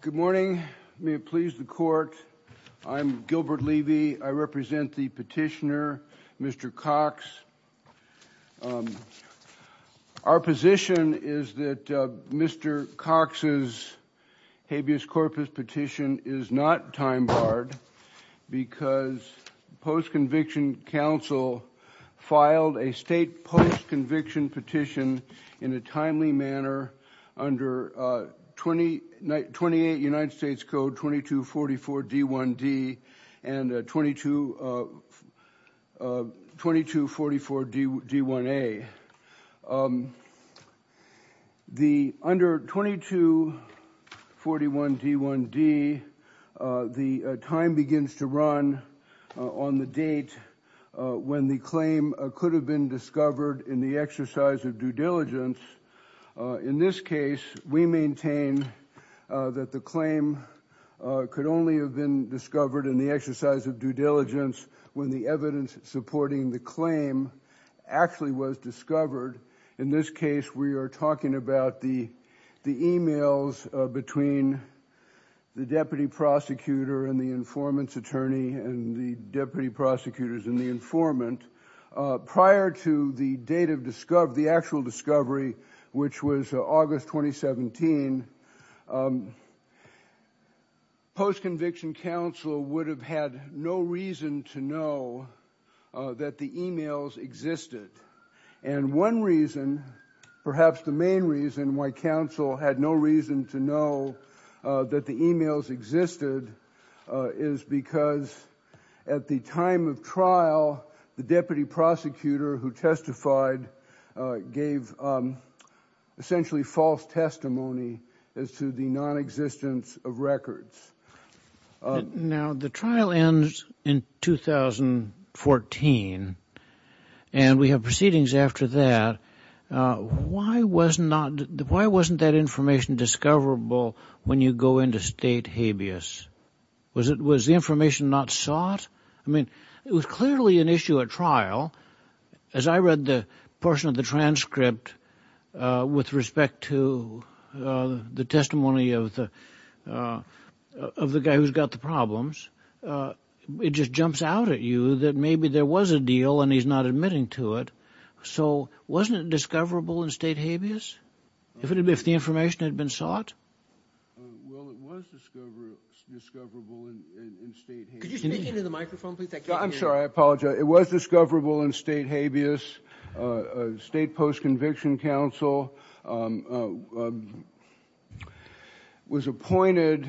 Good morning. May it please the court. I'm Gilbert Levy. I represent the petitioner, Mr. Cox. Our position is that Mr. Cox's habeas corpus petition is not time-barred because post-conviction counsel filed a state post-conviction petition in a timely manner under 28 United States Code 2244 D1D and 2244 D1A. Under 2244 D1D, the time begins to run on the date when the claim could have been discovered in the exercise of due diligence. In this case, we maintain that the claim could only have been discovered in the exercise of due diligence when the evidence supporting the claim actually was discovered. In this case, we are talking about the emails between the deputy prosecutor and the informant's attorney and the deputy prosecutors and the informant. Prior to the date of the actual discovery, which was August 2017, post-conviction counsel would have had no reason to know that the emails existed. And one reason, perhaps the main reason why counsel had no reason to know that the emails existed is because at the time of trial, the deputy prosecutor who testified gave essentially false testimony as to the nonexistence of records. Now, the trial ends in 2014, and we have proceedings after that. Why wasn't that information discoverable when you go into state habeas? Was the information not sought? I mean, it was clearly an issue at trial. As I read the portion of the transcript with respect to the testimony of the guy who's got the problems, it just jumps out at you that maybe there was a deal and he's not admitting to it. So wasn't it discoverable in state habeas if the information had been sought? Well, it was discoverable in state habeas. Could you speak into the microphone, please? I can't hear you. I'm sorry. I apologize. It was discoverable in state habeas. State post-conviction counsel was appointed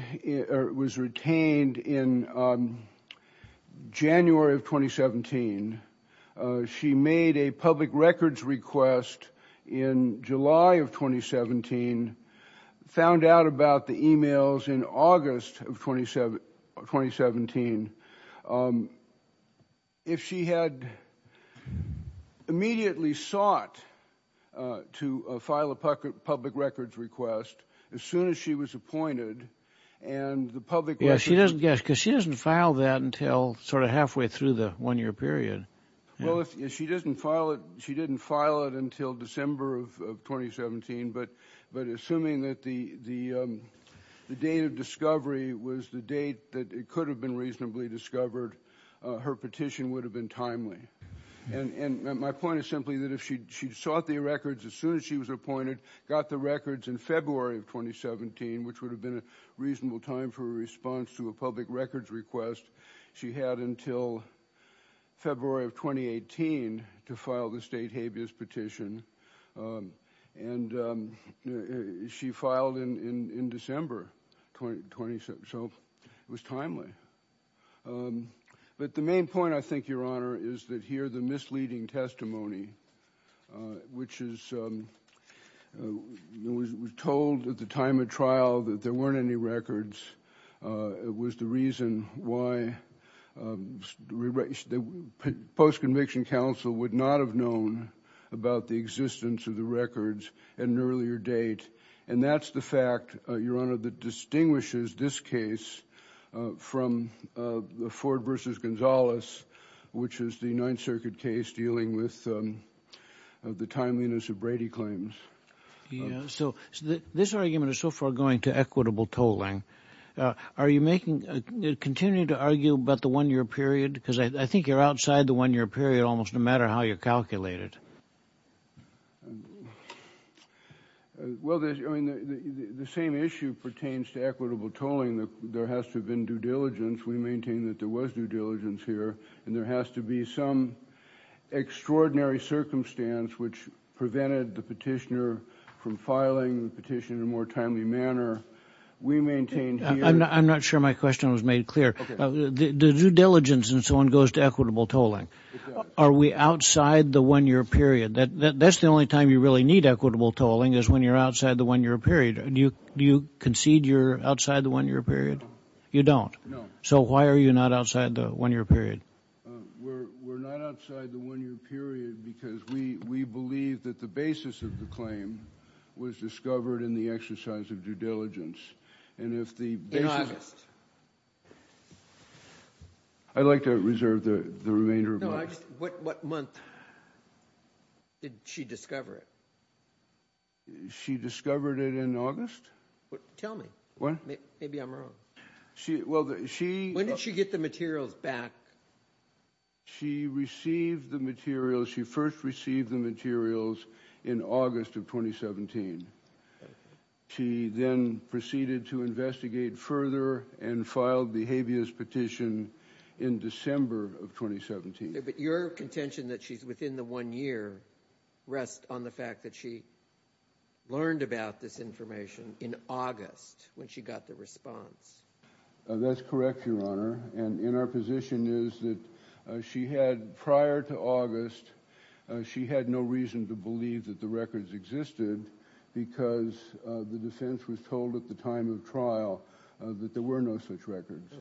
or was retained in January of 2017. She made a public records request in July of 2017, found out about the emails in August of 2017. If she had immediately sought to file a public records request as soon as she was appointed and the public records... Because she doesn't file that until sort of halfway through the one-year period. Well, if she doesn't file it, she didn't file it until December of 2017. But assuming that the date of discovery was the date that it could have been reasonably discovered, her petition would have been timely. And my point is simply that if she sought the records as soon as she was appointed, got the records in February of 2017, which would have been a reasonable time for a response to a public records request, she had until February of 2018 to file the state habeas petition. And she filed in December 2017. So it was timely. But the main point, I think, Your Honor, is that here the misleading testimony, which was told at the time of trial that there weren't any records, was the reason why post-conviction counsel would not have known about the existence of the records at an earlier date. And that's the fact, Your Honor, that distinguishes this case from the Ford v. Gonzalez, which is the Ninth Circuit case dealing with the timeliness of Brady claims. Yeah. So this argument is so far going to equitable tolling. Are you continuing to argue about the one-year period? Because I think you're outside the one-year period almost no matter how you calculate it. Well, I mean, the same issue pertains to equitable tolling. There has to have been due diligence. We maintain that there was due diligence here. And there has to be some extraordinary circumstance which prevented the petitioner from filing the petition in a more timely manner. I'm not sure my question was made clear. The due diligence and so on goes to equitable tolling. Exactly. Are we outside the one-year period? That's the only time you really need equitable tolling is when you're outside the one-year period. Do you concede you're outside the one-year period? No. You don't? No. So why are you not outside the one-year period? We're not outside the one-year period because we believe that the basis of the claim was discovered in the exercise of due diligence. In August. I'd like to reserve the remainder of my time. What month did she discover it? She discovered it in August. Tell me. What? Maybe I'm wrong. When did she get the materials back? She received the materials. She first received the materials in August of 2017. She then proceeded to investigate further and filed behaviorist petition in December of 2017. But your contention that she's within the one year rests on the fact that she learned about this information in August when she got the response. That's correct, Your Honor. And in our position is that she had, prior to August, she had no reason to believe that the records existed because the defense was told at the time of trial that there were no such records.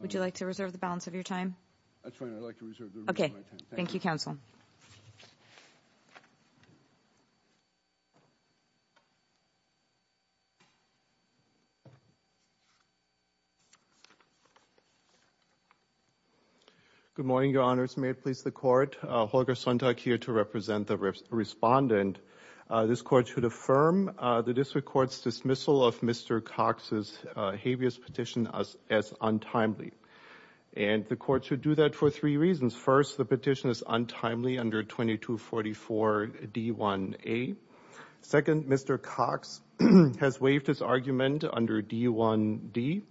Would you like to reserve the balance of your time? That's fine. I'd like to reserve the remainder of my time. Okay. Thank you, counsel. Good morning, Your Honors. May it please the court. Holger Sontag here to represent the respondent. This court should affirm the district court's dismissal of Mr. Cox's behaviorist petition as untimely. And the court should do that for three reasons. First, the petition is untimely under 2244 D1A. Second, Mr. Cox has waived his argument under D1D.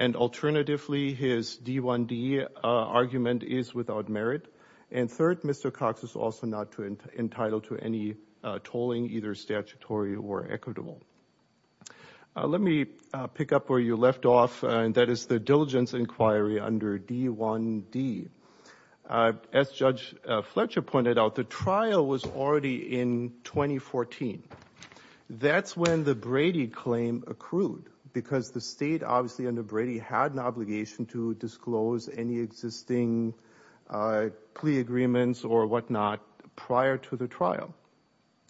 And alternatively, his D1D argument is without merit. And third, Mr. Cox is also not entitled to any tolling, either statutory or equitable. Let me pick up where you left off, and that is the diligence inquiry under D1D. As Judge Fletcher pointed out, the trial was already in 2014. That's when the Brady claim accrued, because the state obviously under Brady had an obligation to disclose any existing plea agreements or whatnot prior to the trial.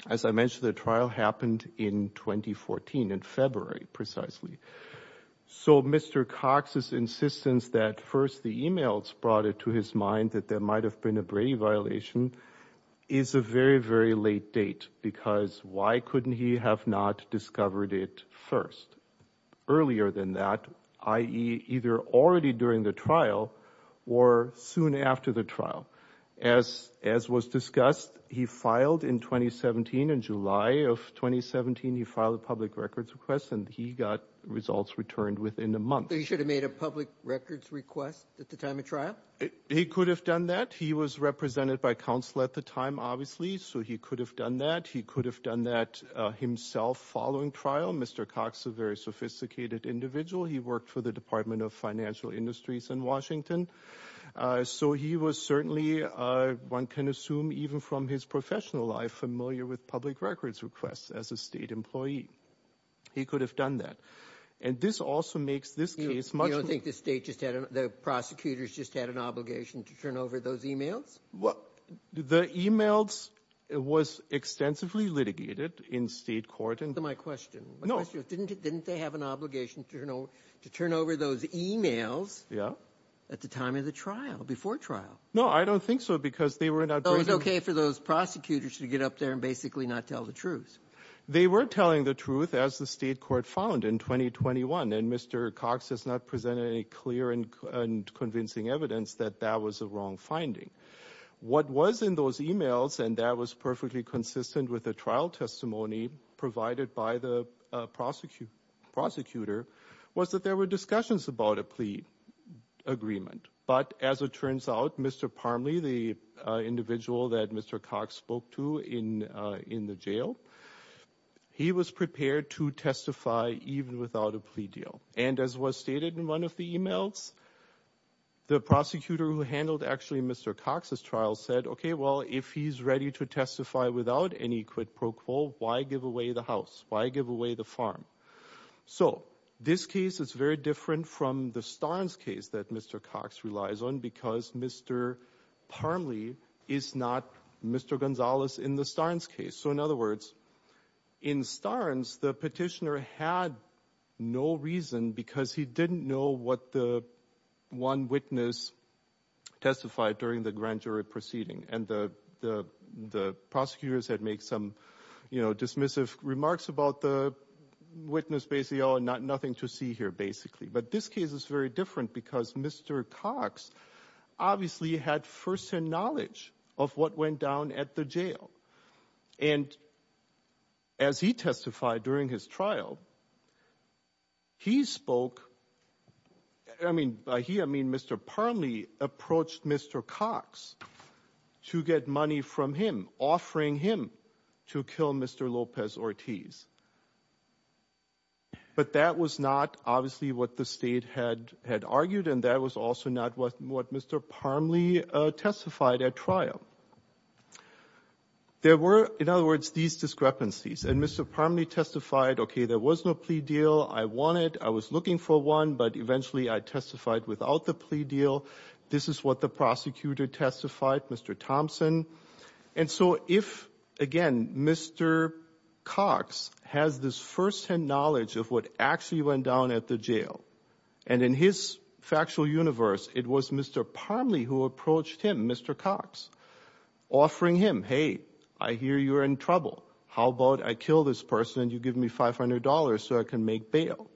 As I mentioned, the trial happened in 2014, in February, precisely. So Mr. Cox's insistence that first the e-mails brought it to his mind that there might have been a Brady violation is a very, very late date, because why couldn't he have not discovered it first, earlier than that, i.e. either already during the trial or soon after the trial? As was discussed, he filed in 2017, in July of 2017, he filed a public records request, and he got results returned within a month. So he should have made a public records request at the time of trial? He could have done that. He was represented by counsel at the time, obviously, so he could have done that. He could have done that himself following trial. Mr. Cox is a very sophisticated individual. He worked for the Department of Financial Industries in Washington. So he was certainly, one can assume, even from his professional life, familiar with public records requests as a state employee. He could have done that. And this also makes this case much more... You don't think the state just had, the prosecutors just had an obligation to turn over those e-mails? The e-mails was extensively litigated in state court. Didn't they have an obligation to turn over those e-mails at the time of the trial, before trial? No, I don't think so, because they were not... So it was okay for those prosecutors to get up there and basically not tell the truth? They were telling the truth, as the state court found in 2021. And Mr. Cox has not presented any clear and convincing evidence that that was a wrong finding. What was in those e-mails, and that was perfectly consistent with the trial testimony provided by the prosecutor, was that there were discussions about a plea agreement. But as it turns out, Mr. Parmley, the individual that Mr. Cox spoke to in the jail, he was prepared to testify even without a plea deal. And as was stated in one of the e-mails, the prosecutor who handled actually Mr. Cox's trial said, okay, well, if he's ready to testify without any quid pro quo, why give away the house? Why give away the farm? So, this case is very different from the Starnes case that Mr. Cox relies on, because Mr. Parmley is not Mr. Gonzalez in the Starnes case. So, in other words, in Starnes, the petitioner had no reason, because he didn't know what the one witness testified during the grand jury proceeding. And the prosecutors had made some dismissive remarks about the witness, basically, oh, nothing to see here, basically. But this case is very different, because Mr. Cox obviously had firsthand knowledge of what went down at the jail. And as he testified during his trial, he spoke, I mean, Mr. Parmley approached Mr. Cox to get money from him, offering him to kill Mr. Lopez-Ortiz. But that was not obviously what the state had argued, and that was also not what Mr. Parmley testified at trial. There were, in other words, these discrepancies. And Mr. Parmley testified, okay, there was no plea deal. I wanted, I was looking for one, but eventually I testified without the plea deal. This is what the prosecutor testified, Mr. Thompson. And so if, again, Mr. Cox has this firsthand knowledge of what actually went down at the jail, and in his factual universe, it was Mr. Parmley who approached him, Mr. Cox, offering him, hey, I hear you're in trouble. How about I kill this person and you give me $500 so I can make bail?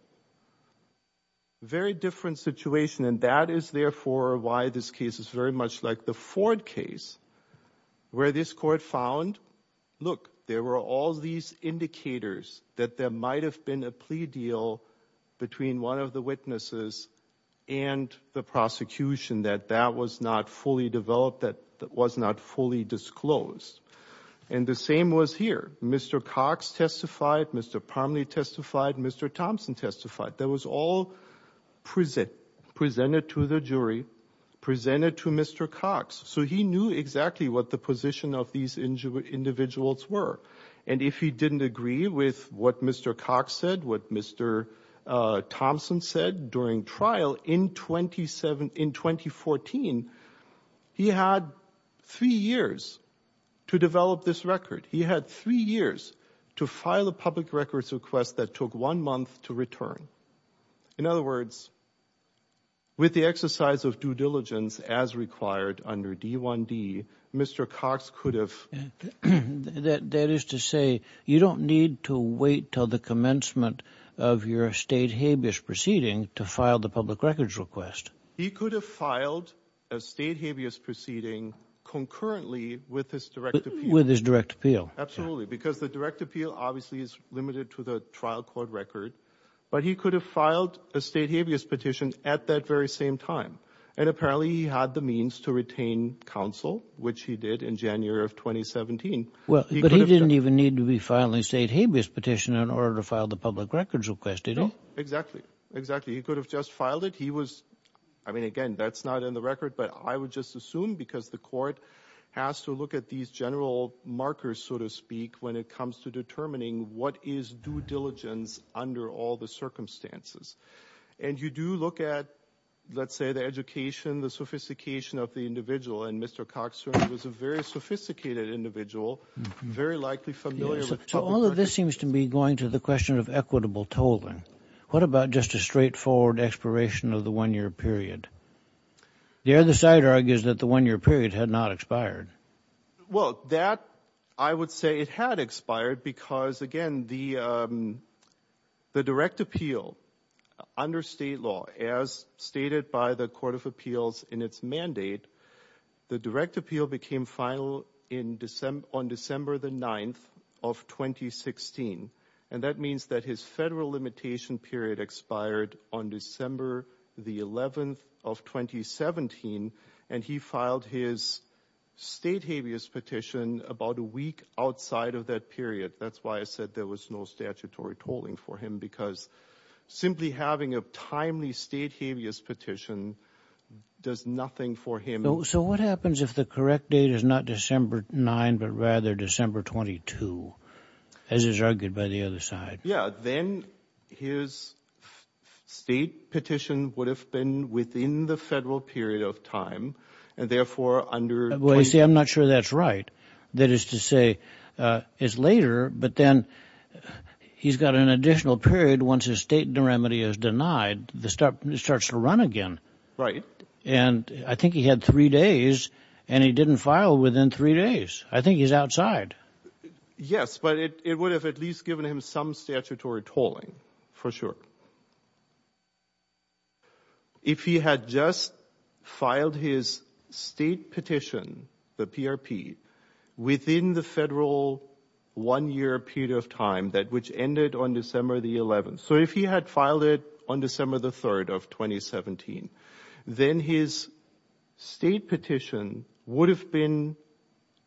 Very different situation, and that is, therefore, why this case is very much like the Ford case, where this court found, look, there were all these indicators that there might have been a plea deal between one of the witnesses and the prosecution, that that was not fully developed, that was not fully disclosed. And the same was here. Mr. Cox testified, Mr. Parmley testified, Mr. Thompson testified. That was all presented to the jury, presented to Mr. Cox. So he knew exactly what the position of these individuals were. And if he didn't agree with what Mr. Cox said, what Mr. Thompson said during trial in 2014, he had three years to develop this record. He had three years to file a public records request that took one month to return. In other words, with the exercise of due diligence as required under D1D, Mr. Cox could have ---- That is to say, you don't need to wait until the commencement of your state habeas proceeding to file the public records request. He could have filed a state habeas proceeding concurrently with his direct appeal. With his direct appeal. Absolutely, because the direct appeal obviously is limited to the trial court record. But he could have filed a state habeas petition at that very same time. And apparently he had the means to retain counsel, which he did in January of 2017. But he didn't even need to be filing a state habeas petition in order to file the public records request, did he? No, exactly. Exactly. He could have just filed it. He was ---- I mean, again, that's not in the record. But I would just assume because the court has to look at these general markers, so to speak, when it comes to determining what is due diligence under all the circumstances. And you do look at, let's say, the education, the sophistication of the individual. And Mr. Cox certainly was a very sophisticated individual, very likely familiar with public records. So all of this seems to be going to the question of equitable tolling. What about just a straightforward expiration of the one-year period? The other side argues that the one-year period had not expired. Well, that I would say it had expired because, again, the direct appeal under state law, as stated by the Court of Appeals in its mandate, the direct appeal became final on December the 9th of 2016. And that means that his federal limitation period expired on December the 11th of 2017. And he filed his state habeas petition about a week outside of that period. That's why I said there was no statutory tolling for him because simply having a timely state habeas petition does nothing for him. So what happens if the correct date is not December 9th but rather December 22nd, as is argued by the other side? Yeah, then his state petition would have been within the federal period of time and therefore under – You see, I'm not sure that's right. That is to say it's later but then he's got an additional period once his state remedy is denied. It starts to run again. Right. And I think he had three days and he didn't file within three days. I think he's outside. Yes, but it would have at least given him some statutory tolling for sure. If he had just filed his state petition, the PRP, within the federal one-year period of time which ended on December the 11th. So if he had filed it on December the 3rd of 2017, then his state petition would have been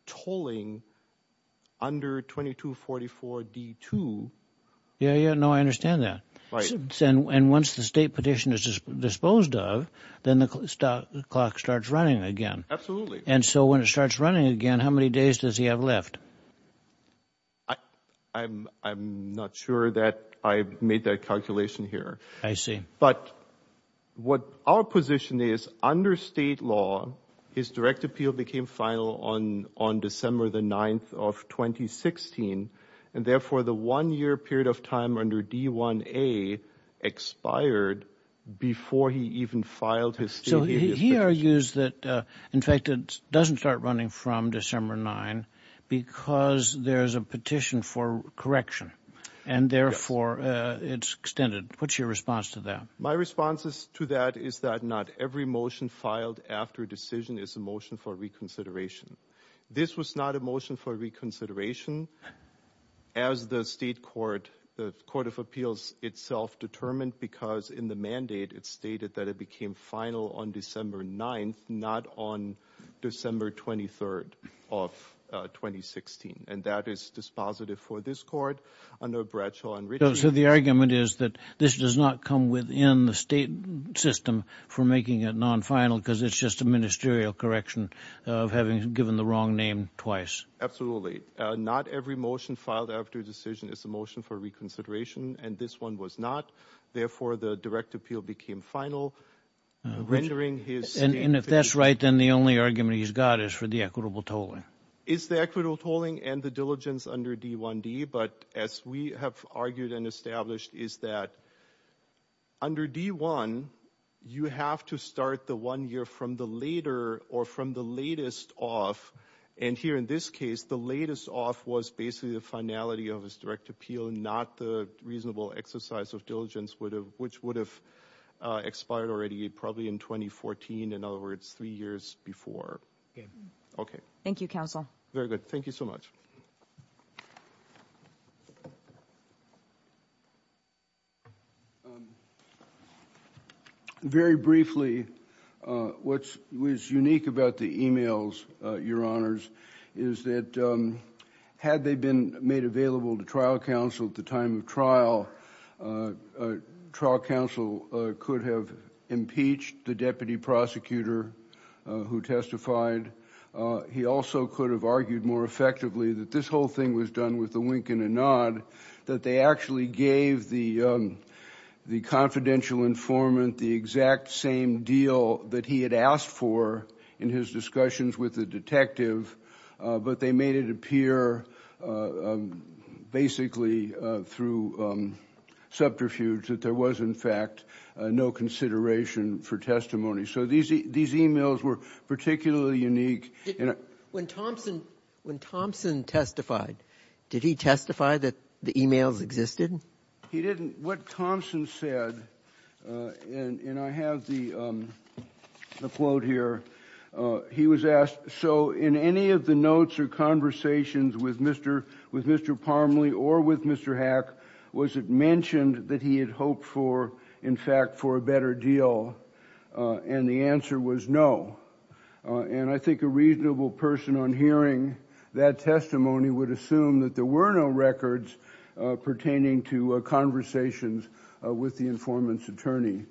tolling under 2244 D2. Yeah, yeah. No, I understand that. And once the state petition is disposed of, then the clock starts running again. Absolutely. And so when it starts running again, how many days does he have left? I'm not sure that I made that calculation here. I see. But what our position is under state law, his direct appeal became final on December the 9th of 2016. And therefore, the one-year period of time under D1A expired before he even filed his state petition. So he argues that, in fact, it doesn't start running from December 9 because there's a petition for correction. And therefore, it's extended. What's your response to that? My response to that is that not every motion filed after a decision is a motion for reconsideration. This was not a motion for reconsideration as the state court, the Court of Appeals itself determined because in the mandate it stated that it became final on December 9th, not on December 23rd of 2016. And that is dispositive for this court under Bradshaw and Ritter. So the argument is that this does not come within the state system for making it non-final because it's just a ministerial correction of having given the wrong name twice. Not every motion filed after a decision is a motion for reconsideration, and this one was not. Therefore, the direct appeal became final, rendering his state petition. And if that's right, then the only argument he's got is for the equitable tolling. It's the equitable tolling and the diligence under D1D. But as we have argued and established is that under D1, you have to start the one year from the later or from the latest off. And here in this case, the latest off was basically the finality of his direct appeal, not the reasonable exercise of diligence, which would have expired already probably in 2014. In other words, three years before. Thank you, counsel. Very good. Thank you so much. Thank you. Very briefly, what was unique about the emails, Your Honors, is that had they been made available to trial counsel at the time of trial, trial counsel could have impeached the deputy prosecutor who testified. He also could have argued more effectively that this whole thing was done with a wink and a nod, that they actually gave the confidential informant the exact same deal that he had asked for in his discussions with the detective, but they made it appear basically through subterfuge that there was, in fact, no consideration for testimony. So these emails were particularly unique. When Thompson testified, did he testify that the emails existed? He didn't. What Thompson said, and I have the quote here, he was asked, so in any of the notes or conversations with Mr. Parmley or with Mr. Hack, was it mentioned that he had hoped for, in fact, for a better deal? And the answer was no. And I think a reasonable person on hearing that testimony would assume that there were no records pertaining to conversations with the informant's attorney.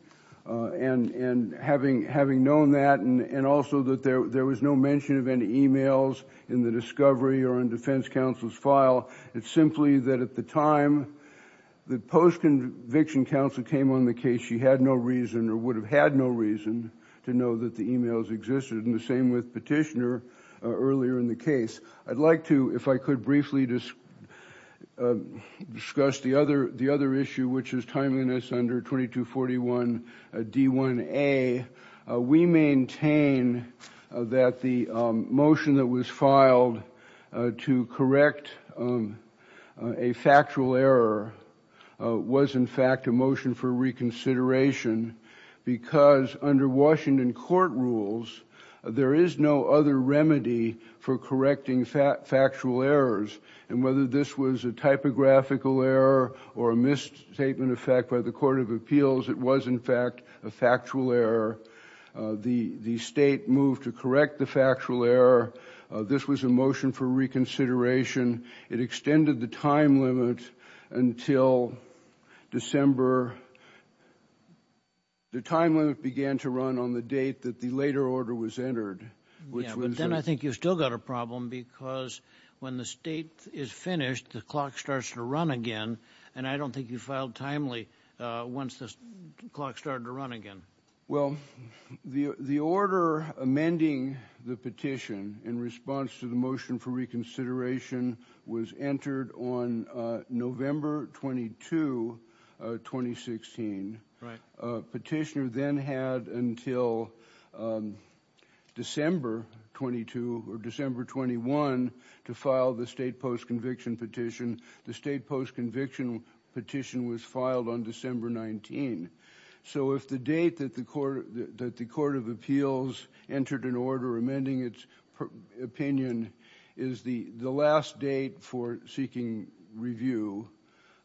And having known that, and also that there was no mention of any emails in the discovery or in defense counsel's file, it's simply that at the time the post-conviction counsel came on the case, she had no reason or would have had no reason to know that the emails existed, and the same with Petitioner earlier in the case. I'd like to, if I could, briefly discuss the other issue, which is timeliness under 2241 D1A. We maintain that the motion that was filed to correct a factual error was in fact a motion for reconsideration because under Washington court rules, there is no other remedy for correcting factual errors, and whether this was a typographical error or a misstatement of fact by the court of appeals, it was, in fact, a factual error. The State moved to correct the factual error. This was a motion for reconsideration. It extended the time limit until December. The time limit began to run on the date that the later order was entered, which was the... Yeah, but then I think you've still got a problem because when the State is finished, the clock starts to run again, and I don't think you filed timely once the clock started to run again. Well, the order amending the petition in response to the motion for reconsideration was entered on November 22, 2016. Petitioner then had until December 22 or December 21 to file the State post-conviction petition. The State post-conviction petition was filed on December 19. So if the date that the court of appeals entered an order amending its opinion is the last date for seeking review,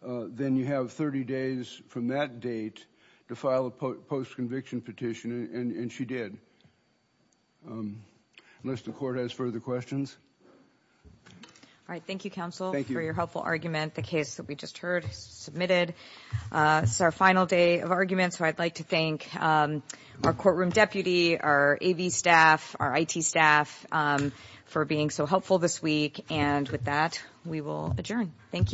then you have 30 days from that date to file a post-conviction petition, and she did. Unless the court has further questions. All right, thank you, counsel, for your helpful argument. Thank you. The case that we just heard submitted is our final day of arguments, so I'd like to thank our courtroom deputy, our AV staff, our IT staff for being so helpful this week. And with that, we will adjourn. Thank you.